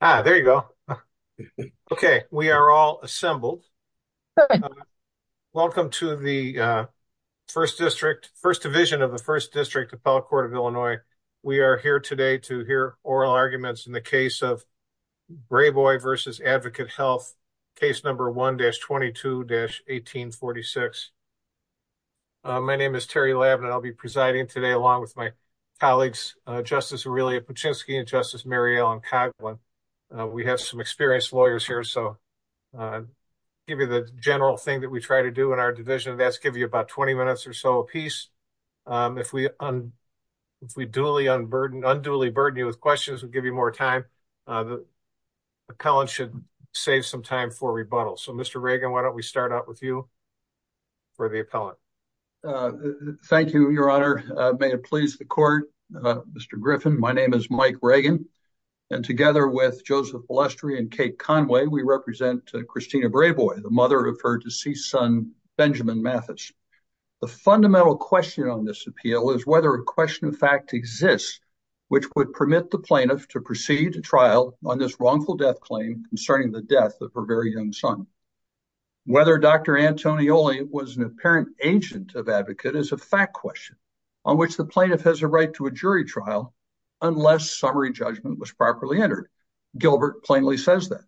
There you go. Okay, we are all assembled. Welcome to the First District, First Division of the First District Appellate Court of Illinois. We are here today to hear oral arguments in the case of Brayboy v. Advocate Health, case number 1-22-1846. My name is Terry Lavin, and I'll be presiding today along with my colleagues, Justice Aurelia Paczynski and Justice Mary Ellen Coghlan. We have some experienced lawyers here, so I'll give you the general thing that we try to do in our division, and that's give you about 20 minutes or so apiece. If we unduly burden you with questions, we'll give you more time. Collin should save some time for rebuttal. So, Mr. Reagan, why don't we start out with you for the appellant? Thank you, Your Honor. May it please the Court, Mr. Griffin, my name is Mike Reagan, and together with Joseph Balestri and Kate Conway, we represent Christina Brayboy, the mother of her deceased son, Benjamin Mathis. The fundamental question on this appeal is whether a question of fact exists which would permit the plaintiff to proceed to trial on this wrongful death claim concerning the death of her very young son. Whether Dr. Antonioli was an apparent agent of Advocate is a fact question, on which the plaintiff has a right to a jury trial unless summary judgment was properly entered. Gilbert plainly says that.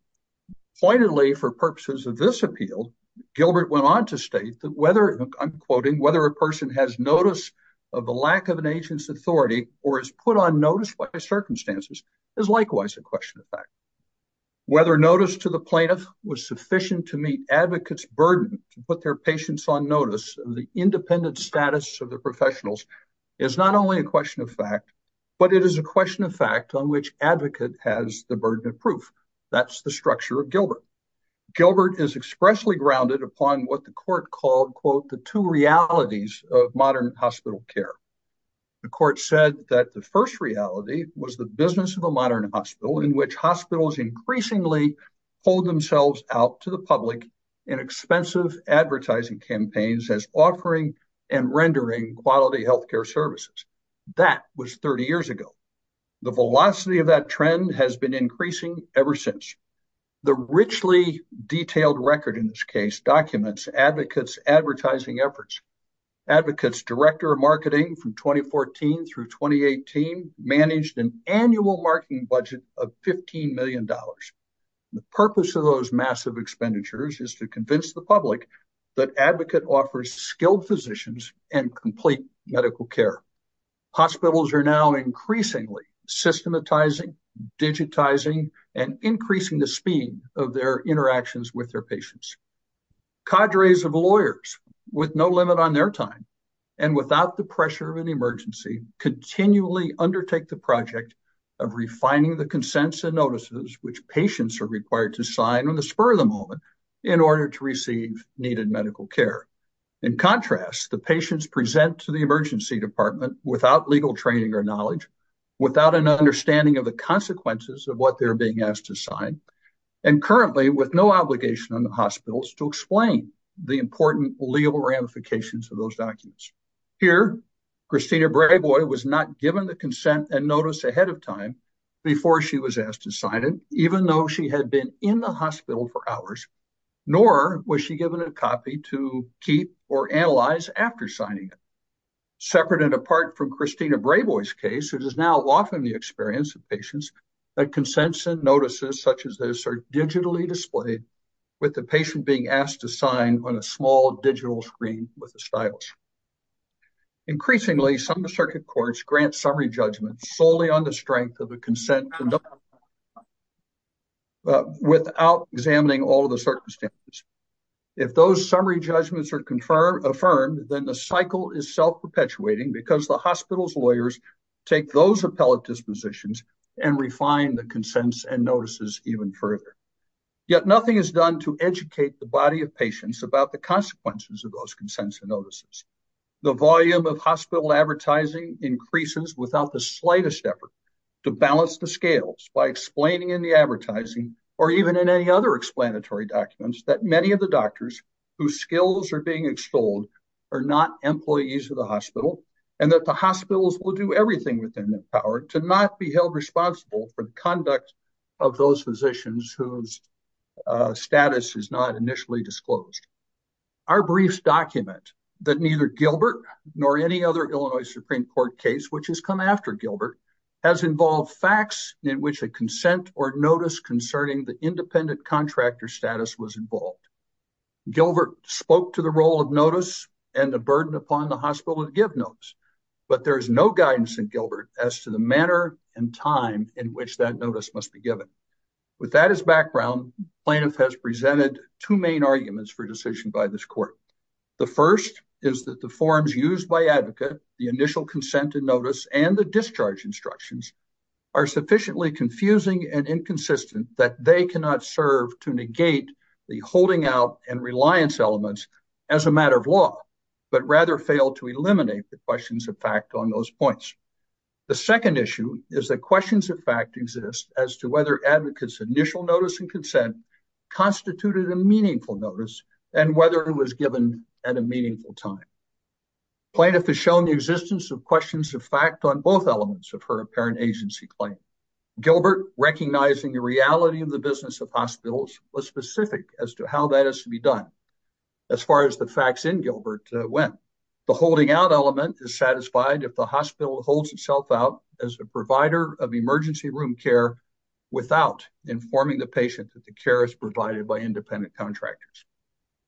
Pointedly, for purposes of this appeal, Gilbert went on to state that whether, I'm quoting, whether a person has notice of the lack of an agent's authority or is put on notice by circumstances is likewise a question of fact. Whether notice to the plaintiff was sufficient to meet Advocate's burden to put their patients on notice of the independent status of their professionals is not only a question of fact, but it is a question of fact on which Advocate has the burden of proof. That's the structure of Gilbert. Gilbert is expressly grounded upon what the court called, quote, the two realities of modern hospital care. The court said that the first reality was the business of a modern hospital in which hospitals increasingly hold themselves out to the public in expensive advertising campaigns as offering and rendering quality healthcare services. That was 30 years ago. The velocity of that trend has been increasing ever since. The richly detailed record in this case documents Advocate's advertising efforts. Advocate's director of marketing from 2014 through 2018 managed an annual marketing budget of $15 million. The purpose of those massive expenditures is to convince the public that Advocate offers skilled physicians and complete medical care. Hospitals are now increasingly systematizing, digitizing, and increasing the speed of their interactions with their patients. Cadres of lawyers with no limit on their time and without the pressure of an emergency continually undertake the project of refining the consents and notices which patients are required to sign on the spur of the moment in order to receive needed medical care. In contrast, the patients present to the emergency department without legal training or knowledge, without an understanding of the consequences of what they're being asked to sign, and currently with no obligation on the hospitals to explain the important legal ramifications of those documents. Here, Christina Brayboy was not given the consent and notice ahead of time before she was asked to sign it, even though she had been in the hospital for hours, nor was she given a copy to keep or analyze after signing it. Separate and apart from Christina Brayboy's case, it is now often the experience of patients that consents and notices such as this are digitally displayed with the patient being asked to sign on a small digital screen with a stylus. Increasingly, some circuit courts grant summary judgment solely on the strength of the consent without examining all of the circumstances. If those summary judgments are confirmed, then the cycle is self-perpetuating because the hospital's lawyers take those appellate dispositions and refine the consents and notices even further. Yet nothing is done to educate the body of patients about the consequences of those consents and notices. The volume of hospital advertising increases without the slightest effort to balance the scales by explaining in the advertising or even in any other explanatory documents that many of the doctors whose skills are being extolled are not employees of the hospital and that the hospitals will do everything within their power to not be held responsible for the conduct of those physicians whose status is not initially disclosed. Our briefs document that neither Gilbert nor any other Illinois Supreme Court case which has come after Gilbert has involved facts in which a consent or notice concerning the independent contractor status was involved. Gilbert spoke to the role of notice and the burden upon the hospital to give notes, but there is no guidance in Gilbert as to the manner and time in which that notice must be given. With that as background, plaintiff has presented two main arguments for decision by this court. The first is that the forms used by advocate, the initial consent and notice and the discharge instructions are sufficiently confusing and inconsistent that they cannot serve to negate the holding out and reliance elements as a matter of law, but rather fail to eliminate the questions of fact on those points. The second issue is that questions of fact exist as to whether advocate's initial notice and consent constituted a meaningful notice and whether it was given at a meaningful time. Plaintiff has shown the existence of questions of fact on both elements of her apparent agency claim. Gilbert recognizing the reality of the business of hospitals was specific as to how that has to be done. As far as the facts in Gilbert went, the holding out element is satisfied if the hospital holds itself out as a provider of emergency room care without informing the patient that the care is provided by independent contractors.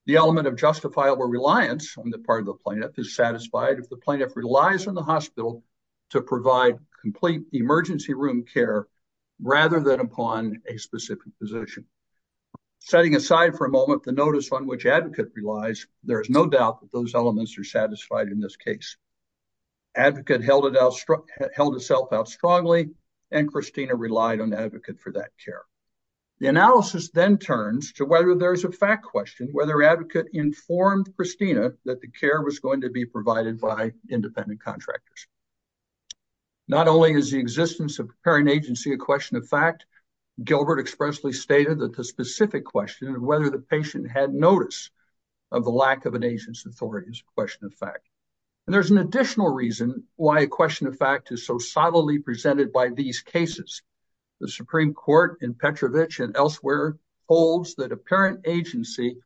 The element of justifiable reliance on the part of the plaintiff is satisfied if the plaintiff relies on the hospital to provide complete emergency room care rather than upon a specific position. Setting aside for a moment the notice on which advocate relies, there is no doubt that those elements are satisfied in this case. Advocate held itself out strongly and Christina relied on advocate for that care. The analysis then turns to whether there's a fact question, whether advocate informed Christina that the care was going to be provided by independent contractors. Not only is the existence of apparent agency a question of fact, Gilbert expressly stated that the specific question of whether the patient had notice of the lack of an agent's authority is a question of fact. And there's an additional reason why a question of fact is so subtly presented by these cases. The Supreme Court in Petrovich and elsewhere holds that apparent agency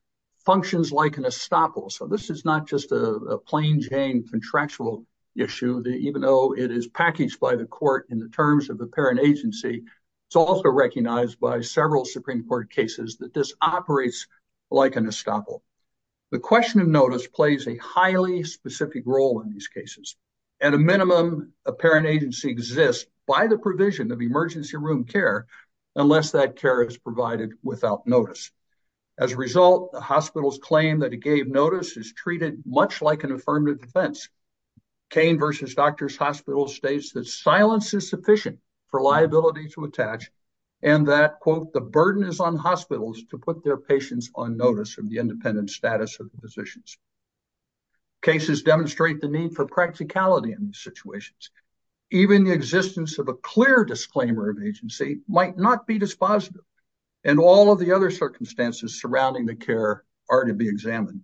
functions like an estoppel. So this is not just a plain Jane contractual issue that even though it is packaged by the court in the terms of apparent agency, it's also recognized by several Supreme Court cases that this operates like an estoppel. The question of notice plays a highly specific role in these cases. At a minimum, apparent agency exists by the provision of emergency room care unless that care is provided without notice. As a result, the hospital's claim that it gave notice is treated much like an affirmative defense. Kane versus Doctors Hospital states that silence is sufficient for liability to attach and that quote, the burden is on hospitals to put their patients on notice from the independent status of the physicians. Cases demonstrate the need for practicality in these situations. Even the existence of a clear disclaimer of agency might not be dispositive. And all of the other circumstances surrounding the care are to be examined.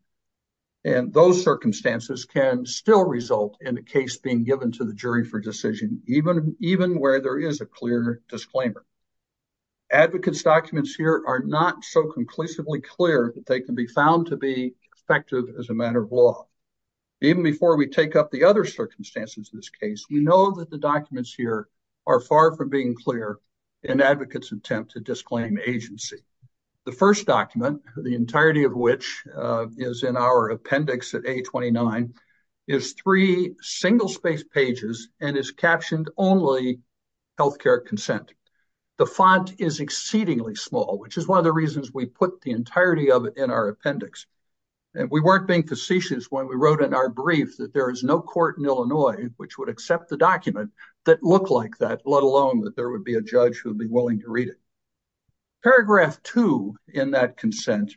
And those circumstances can still result in a case being given to the jury for decision even where there is a clear disclaimer. Advocates documents here are not so conclusively clear that they can be found to be effective as a matter of law. Even before we take up the other circumstances in this case, we know that the documents here are far from being clear in advocates attempt to disclaim agency. The first document, the entirety of which is in our appendix at A29, is three single space pages and is captioned only healthcare consent. The font is exceedingly small, which is one of the reasons we put the entirety of it in our appendix. And we weren't being facetious when we wrote in our brief that there is no court in Illinois which would accept the document that looked like that, let alone that there would be a judge who would be willing to read it. Paragraph two in that consent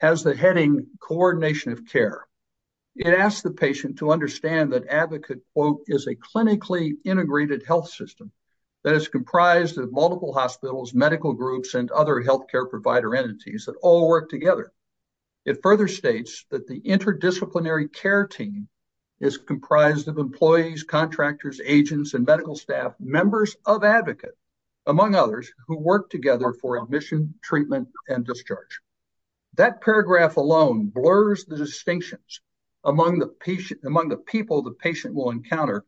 has the heading coordination of care. It asks the patient to understand that advocate is a clinically integrated health system that is comprised of multiple hospitals, medical groups and other healthcare provider entities that all work together. It further states that the interdisciplinary care team is comprised of employees, contractors, agents and medical staff, members of advocate among others who work together for admission, treatment and discharge. That paragraph alone blurs the distinctions among the people the patient will encounter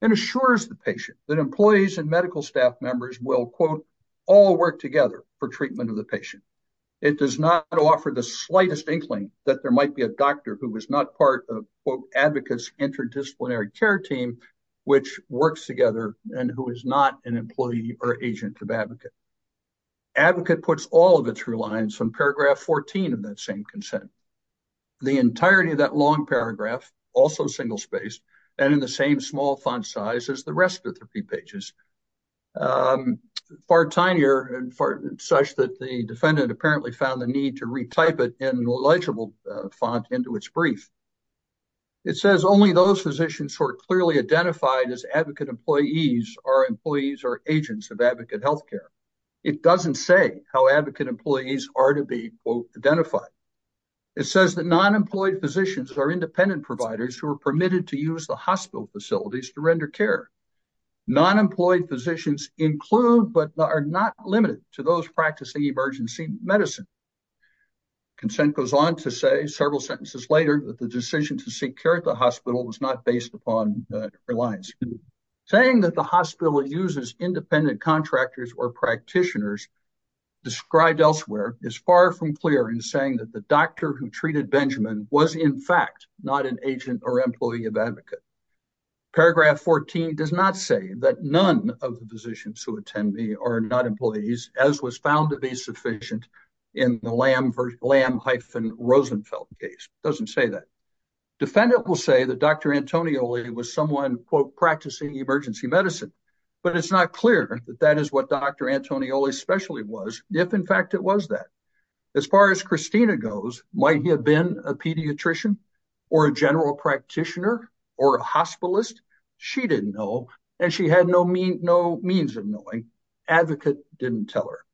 and assures the patient that employees and medical staff members will quote, all work together for treatment of the patient. It does not offer the slightest inkling that there might be a doctor who was not part of quote advocates interdisciplinary care team which works together and who is not an employee or agent of advocate. Advocate puts all of it through lines from paragraph 14 of that same consent. The entirety of that long paragraph also single space and in the same small font size as the rest of the three pages far tinier and such that the defendant apparently found the need to retype it in legible font into its brief. It says only those physicians who are clearly identified as advocate employees are employees or agents of advocate healthcare. It doesn't say how advocate employees are to be quote identified. It says that non-employed physicians are independent providers who are permitted to use the hospital facilities to render care. Non-employed physicians include but are not limited to those practicing emergency medicine. Consent goes on to say several sentences later that the decision to seek care at the hospital was not based upon reliance. Saying that the hospital uses independent contractors or practitioners described elsewhere is far from clear in saying that the doctor who treated Benjamin was in fact not an agent or employee of advocate. Paragraph 14 does not say that none of the physicians who attend me are not employees as was found to be sufficient in the Lamb hyphen Rosenfeld case. It doesn't say that. Defendant will say that Dr. Antonioli was someone quote practicing emergency medicine but it's not clear that that is what Dr. Antonioli especially was if in fact it was that. As far as Christina goes, might he have been a pediatrician or a general practitioner or a hospitalist? She didn't know and she had no means of knowing. Advocate didn't tell her.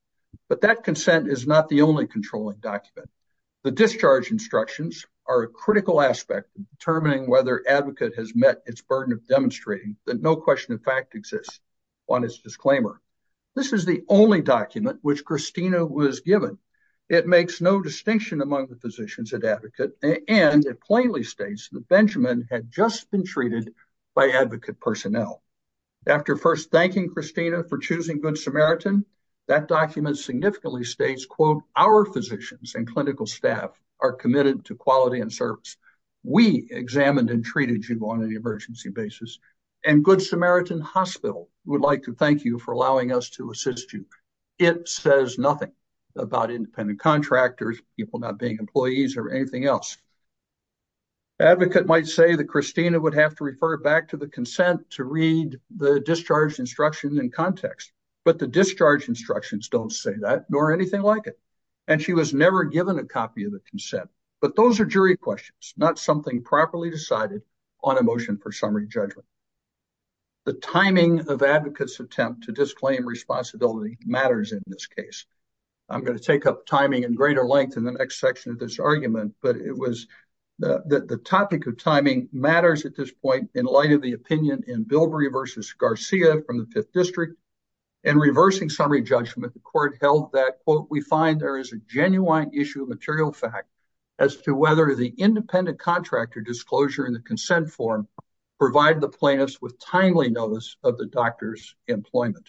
But that consent is not the only controlling document. The discharge instructions are a critical aspect of determining whether advocate has met its burden of demonstrating that no question of fact exists on his disclaimer. This is the only document which Christina was given. It makes no distinction among the physicians at advocate and it plainly states that Benjamin had just been treated by advocate personnel. After first thanking Christina for choosing Good Samaritan, that document significantly states quote, our physicians and clinical staff are committed to quality and service. We examined and treated you on an emergency basis and Good Samaritan Hospital would like to thank you for allowing us to assist you. It says nothing about independent contractors, people not being employees or anything else. Advocate might say that Christina would have to refer back to the consent to read the discharge instructions in context, but the discharge instructions don't say that nor anything like it. And she was never given a copy of the consent but those are jury questions, not something properly decided on a motion for summary judgment. The timing of advocates attempt to disclaim responsibility matters in this case. I'm gonna take up timing in greater length in the next section of this argument, but it was the topic of timing matters at this point in light of the opinion in Bilbrey versus Garcia from the fifth district and reversing summary judgment, the court held that quote, we find there is a genuine issue of material fact as to whether the independent contractor disclosure in the consent form provide the plaintiffs with timely notice of the doctor's employment.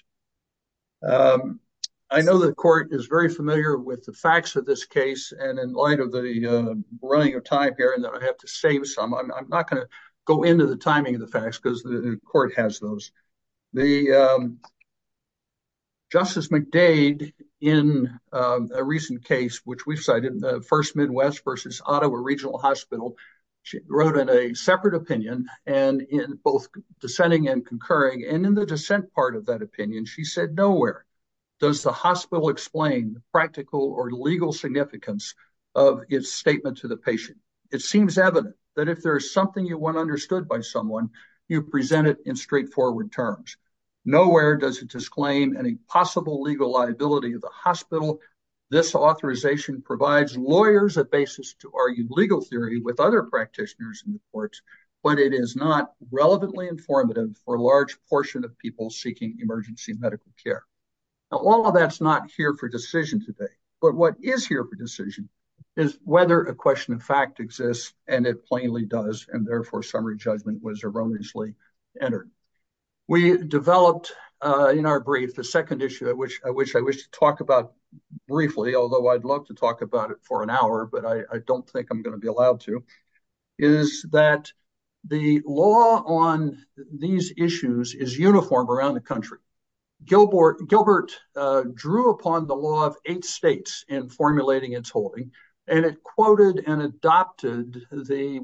I know the court is very familiar with the facts of this case and in light of the running of time here and that I have to save some, I'm not gonna go into the timing of the facts because the court has those. Justice McDade in a recent case, which we've cited in the first Midwest versus Ottawa Regional Hospital, she wrote in a separate opinion and in both dissenting and concurring and in the dissent part of that opinion, she said, nowhere does the hospital explain the practical or legal significance of its statement to the patient. It seems evident that if there is something you want understood by someone, you present it in straightforward terms. Nowhere does it disclaim any possible legal liability of the hospital. This authorization provides lawyers a basis to argue legal theory with other practitioners in the courts, but it is not relevantly informative for a large portion of people seeking emergency medical care. Now, all of that's not here for decision today, but what is here for decision is whether a question of fact exists and it plainly does and therefore summary judgment was erroneously entered. We developed in our brief, the second issue at which I wish to talk about briefly, although I'd love to talk about it for an hour, but I don't think I'm gonna be allowed to, is that the law on these issues is uniform around the country. Gilbert drew upon the law of eight states in formulating its holding, and it quoted and adopted the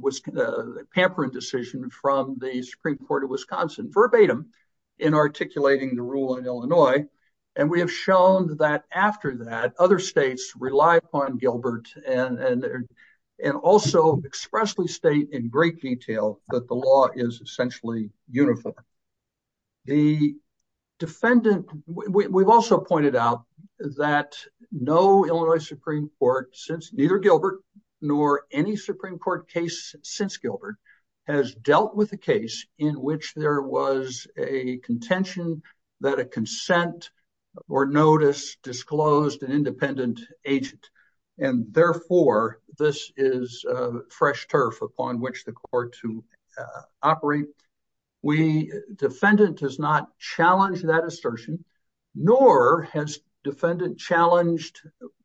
Pamperin decision from the Supreme Court of Wisconsin verbatim in articulating the rule in Illinois. And we have shown that after that, other states rely upon Gilbert and also expressly state in great detail that the law is essentially uniform. The defendant, we've also pointed out that no Illinois Supreme Court since neither Gilbert nor any Supreme Court case since Gilbert has dealt with a case in which there was a contention that a consent or notice disclosed an independent agent. And therefore this is a fresh turf upon which the court to operate. Defendant does not challenge that assertion nor has defendant challenged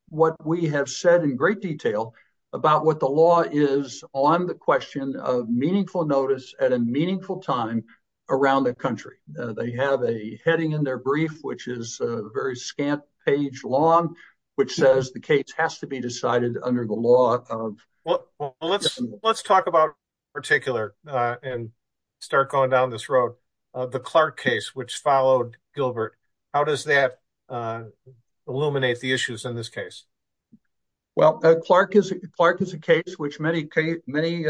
what we have said in great detail about what the law is on the question of meaningful notice at a meaningful time around the country. They have a heading in their brief, which is a very scant page long, which says the case has to be decided under the law of- Well, let's talk about particular and start going down this road. The Clark case, which followed Gilbert. How does that illuminate the issues in this case? Well, Clark is a case which many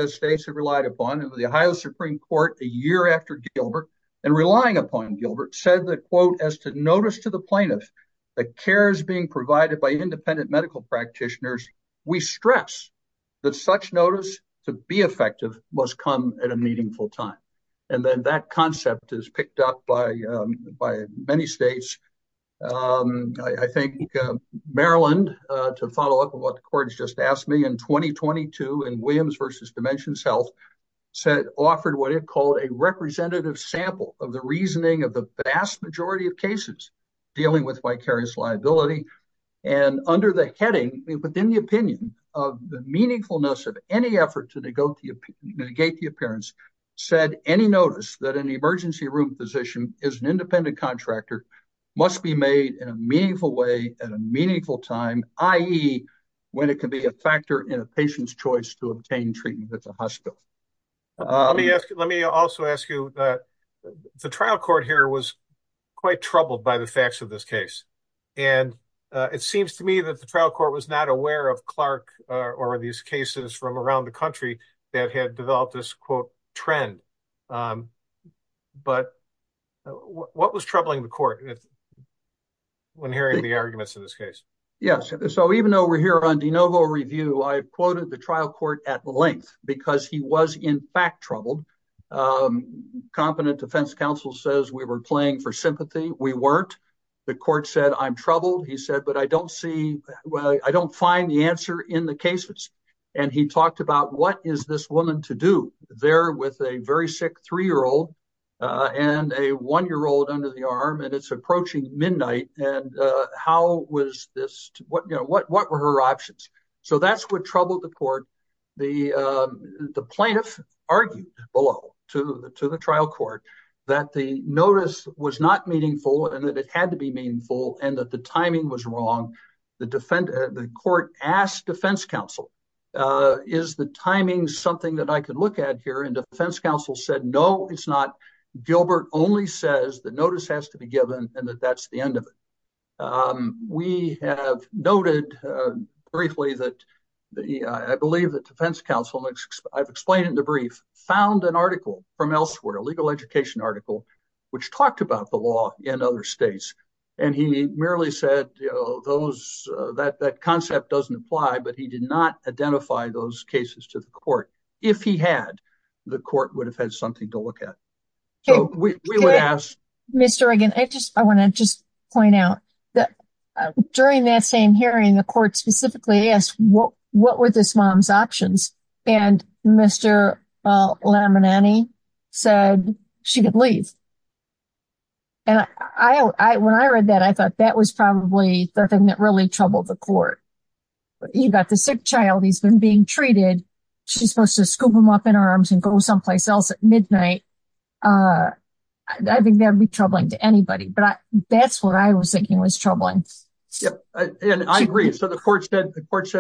states have relied upon and the Ohio Supreme Court a year after Gilbert and relying upon Gilbert said the quote as to notice to the plaintiff that care is being provided by independent medical practitioners. We stress that such notice to be effective must come at a meaningful time. And then that concept is picked up by many states. I think Maryland to follow up with what the court has just asked me in 2022 in Williams versus Dimensions Health said offered what it called a representative sample of the reasoning of the vast majority of cases dealing with vicarious liability and under the heading within the opinion of the meaningfulness of any effort to negate the appearance said any notice that an emergency room physician is an independent contractor must be made in a meaningful way at a meaningful time, i.e. when it can be a factor in a patient's choice to obtain treatment at the hospital. Let me also ask you that the trial court here was quite troubled by the facts of this case. And it seems to me that the trial court was not aware of Clark or these cases from around the country that had developed this quote trend. But what was troubling the court when hearing the arguments in this case? Yes, so even though we're here on de novo review, I quoted the trial court at length because he was in fact troubled. Competent defense counsel says we were playing for sympathy. We weren't. The court said, I'm troubled. He said, but I don't see, I don't find the answer in the cases. And he talked about what is this woman to do there with a very sick three-year-old and a one-year-old under the arm and it's approaching midnight. And how was this, what were her options? So that's what troubled the court. The plaintiff argued below to the trial court that the notice was not meaningful and that it had to be meaningful and that the timing was wrong. The court asked defense counsel, is the timing something that I could look at here? And defense counsel said, no, it's not. Gilbert only says the notice has to be given and that that's the end of it. We have noted briefly that, I believe that defense counsel, I've explained it in the brief, found an article from elsewhere, a legal education article, which talked about the law in other states. And he merely said that concept doesn't apply, but he did not identify those cases to the court. If he had, the court would have had something to look at. So we would ask- Mr. Reagan, I wanna just point out that during that same hearing, the court specifically asked, what were this mom's options? And Mr. Lamaneni said she could leave. And when I read that, I thought that was probably the thing that really troubled the court. You got the sick child, he's been being treated. She's supposed to scoop him up in her arms and go someplace else at midnight. I think that'd be troubling to anybody, but that's what I was thinking was troubling. Yeah, and I agree. So the court said,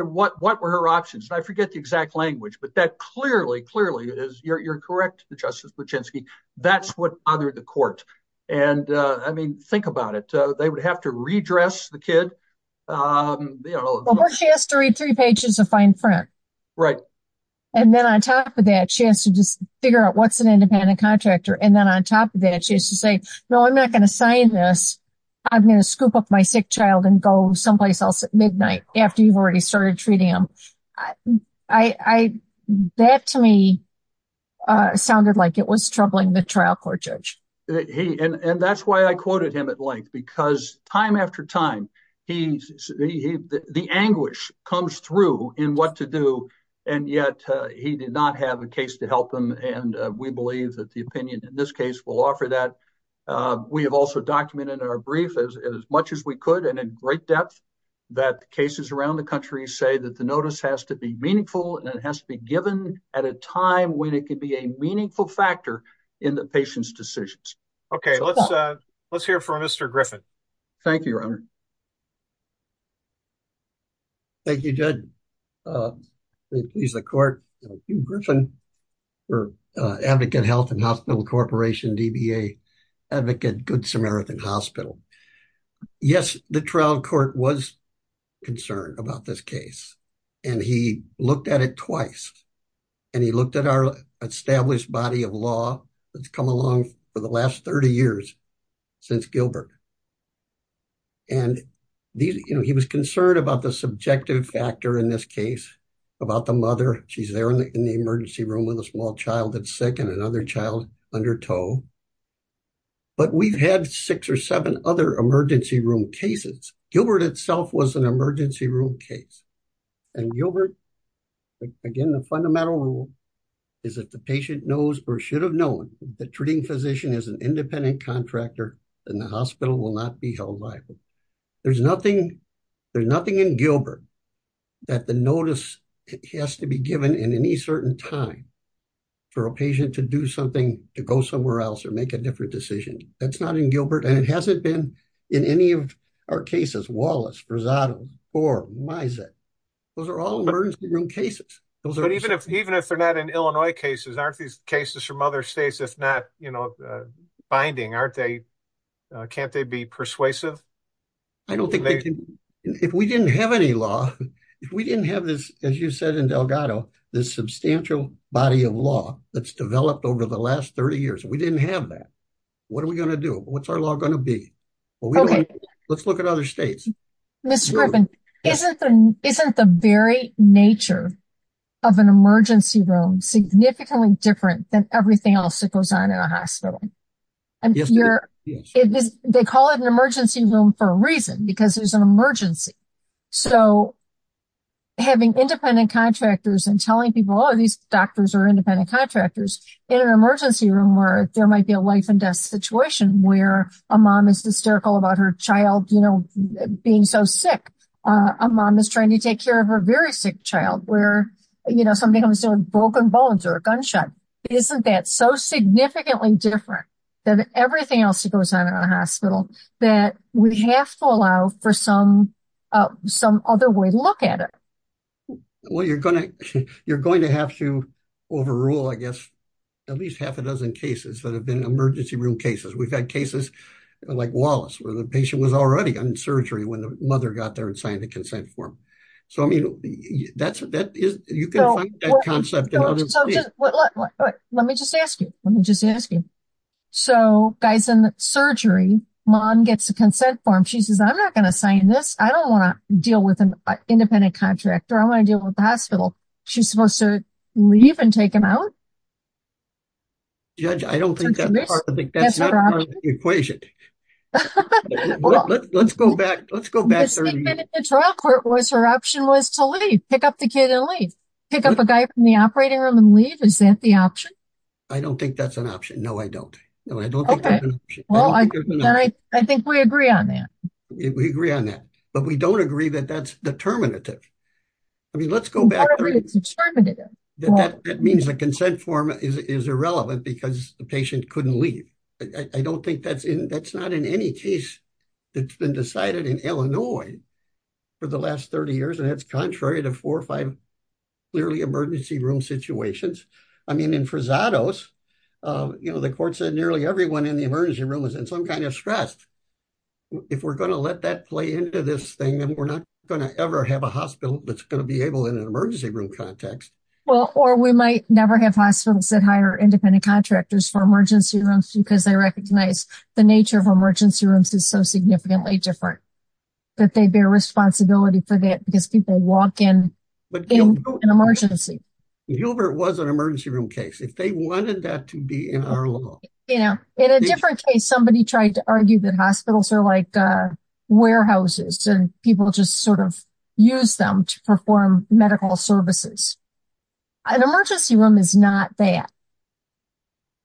what were her options? I forget the exact language, but that clearly, clearly it is. You're correct, Justice Bluchensky. That's what bothered the court. And I mean, think about it. They would have to redress the kid. Well, she has to read three pages of fine print. Right. And then on top of that, she has to just figure out what's an independent contractor. And then on top of that, she has to say, no, I'm not gonna sign this. I'm gonna scoop up my sick child and go someplace else at midnight after you've already started treating him. That to me sounded like it was troubling the trial court judge. He, and that's why I quoted him at length, because time after time, the anguish comes through in what to do. And yet he did not have a case to help them. And we believe that the opinion in this case will offer that. We have also documented in our brief as much as we could and in great depth that cases around the country say that the notice has to be meaningful and it has to be given at a time when it could be a meaningful factor in the patient's decisions. Okay. Let's hear from Mr. Griffin. Thank you, Your Honor. Thank you, Judge. Please the court. Hugh Griffin for Advocate Health and Hospital Corporation, DBA, Advocate Good Samaritan Hospital. Yes, the trial court was concerned about this case and he looked at it twice. And he looked at our established body of law that's come along for the last 30 years since Gilbert. And he was concerned about the subjective factor in this case, about the mother. She's there in the emergency room with a small child that's sick and another child under tow. But we've had six or seven other emergency room cases. Gilbert itself was an emergency room case. And Gilbert, again, the fundamental rule is that the patient knows or should have known that the treating physician is an independent contractor and the hospital will not be held liable. There's nothing in Gilbert that the notice has to be given in any certain time for a patient to do something, to go somewhere else or make a different decision. That's not in Gilbert. And it hasn't been in any of our cases, Wallace, Rosado, Boer, Mizek. Those are all emergency room cases. Even if they're not in Illinois cases, aren't these cases from other states, if not binding, can't they be persuasive? I don't think they can. If we didn't have any law, if we didn't have this, as you said in Delgado, this substantial body of law that's developed over the last 30 years, if we didn't have that, what are we gonna do? What's our law gonna be? Well, let's look at other states. Ms. Scriven, isn't the very nature of an emergency room significantly different than everything else that goes on in a hospital? They call it an emergency room for a reason because there's an emergency. So having independent contractors and telling people, oh, these doctors are independent contractors in an emergency room where there might be a life and death situation where a mom is hysterical about her child being so sick. A mom is trying to take care of her very sick child where somebody comes in with broken bones or a gunshot. Isn't that so significantly different than everything else that goes on in a hospital that we have to allow for some other way to look at it? Well, you're going to have to overrule, I guess, at least half a dozen cases that have been emergency room cases. We've had cases like Wallace where the patient was already in surgery when the mother got there and signed the consent form. So, I mean, you can find that concept in other states. Let me just ask you, let me just ask you. So guys in the surgery, mom gets a consent form. She says, I'm not going to sign this. I don't want to deal with an independent contractor. I want to deal with the hospital. She's supposed to leave and take him out? Judge, I don't think that's part of the equation. Let's go back, let's go back. The statement in the trial court was her option was to leave, pick up the kid and leave, pick up a guy from the operating room and leave. Is that the option? I don't think that's an option. No, I don't. No, I don't think that's an option. Well, then I think we agree on that. We agree on that. But we don't agree that that's determinative. I mean, let's go back. I don't think it's determinative. That means the consent form is irrelevant because the patient couldn't leave. I don't think that's in, that's not in any case that's been decided in Illinois for the last 30 years. And that's contrary to four or five clearly emergency room situations. I mean, in Frazados, you know, the court said nearly everyone in the emergency room was in some kind of stress. If we're going to let that play into this thing, then we're not going to ever have a hospital that's going to be able in an emergency room context. Well, or we might never have hospitals that hire independent contractors for emergency rooms because they recognize the nature of emergency rooms is so significantly different that they bear responsibility for that because people walk in an emergency. Gilbert was an emergency room case. If they wanted that to be in our law. You know, in a different case, somebody tried to argue that hospitals are like warehouses and people just sort of use them to perform medical services. An emergency room is not that.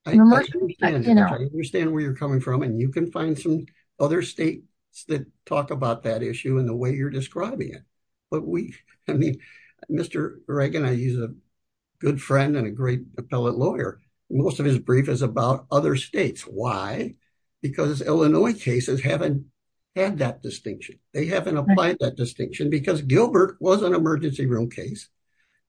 I understand where you're coming from and you can find some other states that talk about that issue in the way you're describing it. I mean, Mr. Reagan, he's a good friend and a great appellate lawyer. Most of his brief is about other states. Why? Because Illinois cases haven't had that distinction. They haven't applied that distinction because Gilbert was an emergency room case.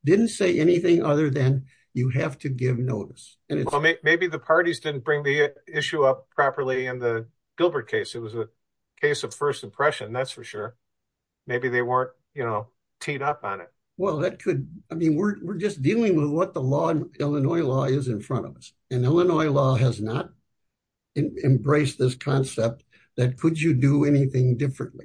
Didn't say anything other than you have to give notice. Maybe the parties didn't bring the issue up properly in the Gilbert case. It was a case of first impression. That's for sure. Maybe they weren't, you know, teed up on it. Well, that could, I mean, we're just dealing with what the law, Illinois law is in front of us. And Illinois law has not embraced this concept that could you do anything differently.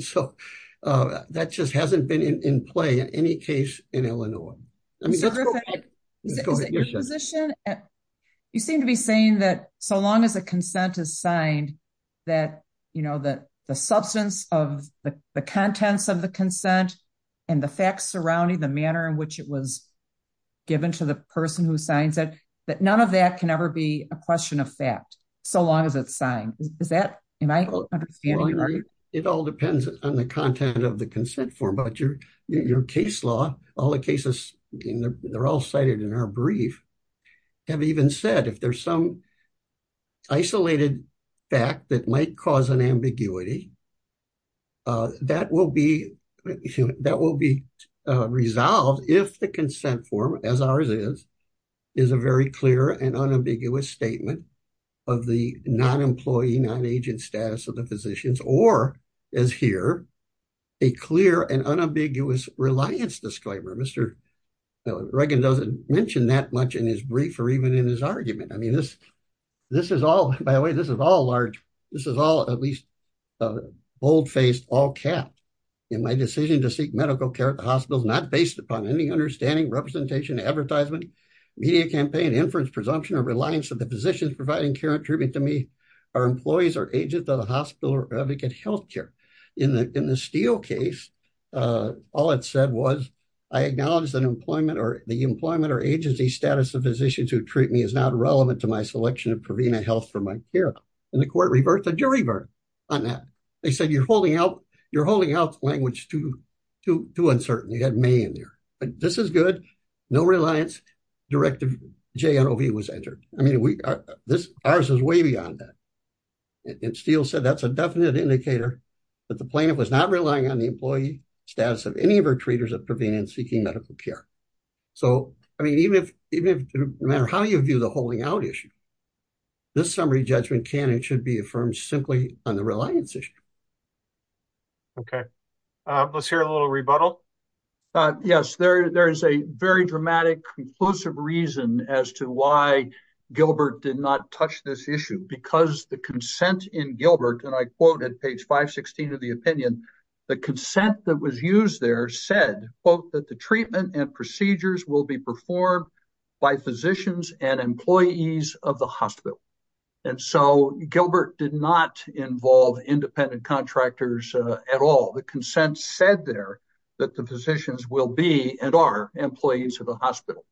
So that just hasn't been in play in any case in Illinois. I mean, let's go ahead. Is it your position? You seem to be saying that so long as a consent is signed that, you know, that the substance of the contents of the consent and the facts surrounding the manner in which it was given to the person who signs it, that none of that can ever be a question of fact. So long as it's signed. Is that, am I understanding? It all depends on the content of the consent form, but your case law, all the cases, they're all cited in our brief, have even said, if there's some isolated fact that might cause an ambiguity, that will be resolved if the consent form, as ours is, is a very clear and unambiguous statement of the non-employee, non-agent status of the physicians, or as here, a clear and unambiguous reliance disclaimer. Mr. Reagan doesn't mention that much in his brief or even in his argument. I mean, this is all, by the way, this is all large. This is all, at least, bold-faced, all-capped. In my decision to seek medical care at the hospital, is not based upon any understanding, representation, advertisement, media campaign, inference, presumption, or reliance of the physicians providing care and treatment to me, our employees are agents of the hospital or advocate healthcare. In the Steele case, all it said was, I acknowledge that employment or the employment or agency status of physicians who treat me is not relevant to my selection of Prevena Health for my care. And the court revert, the jury revert on that. They said, you're holding out language too uncertain. You had may in there, but this is good. No reliance, directive JNOV was entered. I mean, ours is way beyond that. And Steele said, that's a definite indicator that the plaintiff was not relying on the employee status of any of her treaters at Prevena seeking medical care. So, I mean, even if no matter how you view the holding out issue, this summary judgment can and should be affirmed simply on the reliance issue. Okay, let's hear a little rebuttal. Yes, there is a very dramatic conclusive reason as to why Gilbert did not touch this issue because the consent in Gilbert, and I quote at page 516 of the opinion, the consent that was used there said, quote, that the treatment and procedures will be performed by physicians and employees of the hospital. And so Gilbert did not involve independent contractors at all, the consent said there that the physicians will be and are employees of the hospital.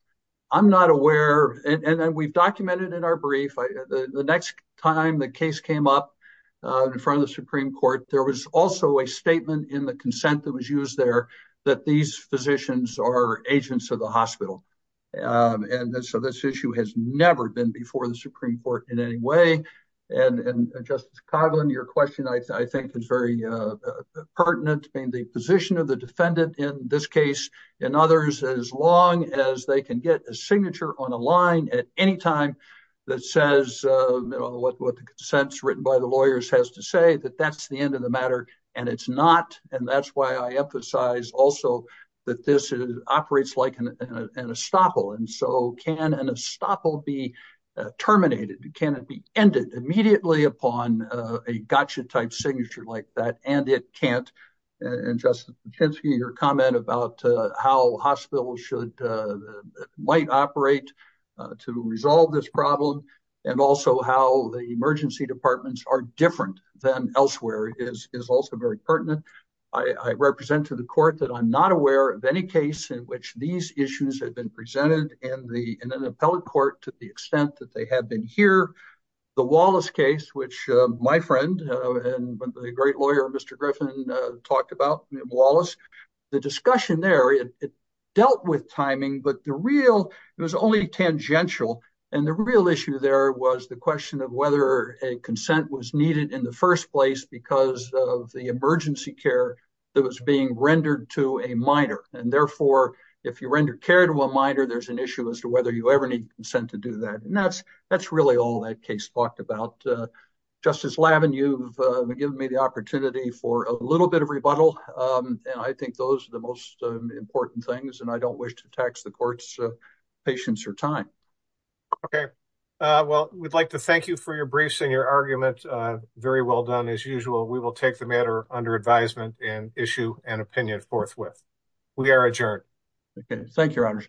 I'm not aware, and we've documented in our brief, the next time the case came up in front of the Supreme Court, there was also a statement in the consent that was used there that these physicians are agents of the hospital. And so this issue has never been before the Supreme Court in any way. And Justice Coghlan, your question, I think is very pertinent in the position of the defendant in this case and others, as long as they can get a signature on a line at any time that says, what the consents written by the lawyers has to say that that's the end of the matter. And it's not, and that's why I emphasize also that this operates like an estoppel. And so can an estoppel be terminated? Can it be ended immediately upon a gotcha type signature like that? And it can't, and Justice Kaczynski, your comment about how hospitals should, might operate to resolve this problem and also how the emergency departments are different than elsewhere is also very pertinent. I represent to the court that I'm not aware of any case in which these issues have been presented in an appellate court to the extent that they have been here. The Wallace case, which my friend and the great lawyer, Mr. Griffin talked about, Wallace, the discussion there, it dealt with timing, but the real, it was only tangential. And the real issue there was the question of whether a consent was needed in the first place because of the emergency care that was being rendered to a minor. And therefore, if you render care to a minor, there's an issue as to whether you ever need consent to do that. And that's really all that case talked about. Justice Lavin, you've given me the opportunity for a little bit of rebuttal. And I think those are the most important things and I don't wish to tax the court's patience or time. Okay. Well, we'd like to thank you for your briefs and your argument. Very well done as usual. We will take the matter under advisement and issue an opinion forthwith. We are adjourned. Okay. Thank you, Your Honor.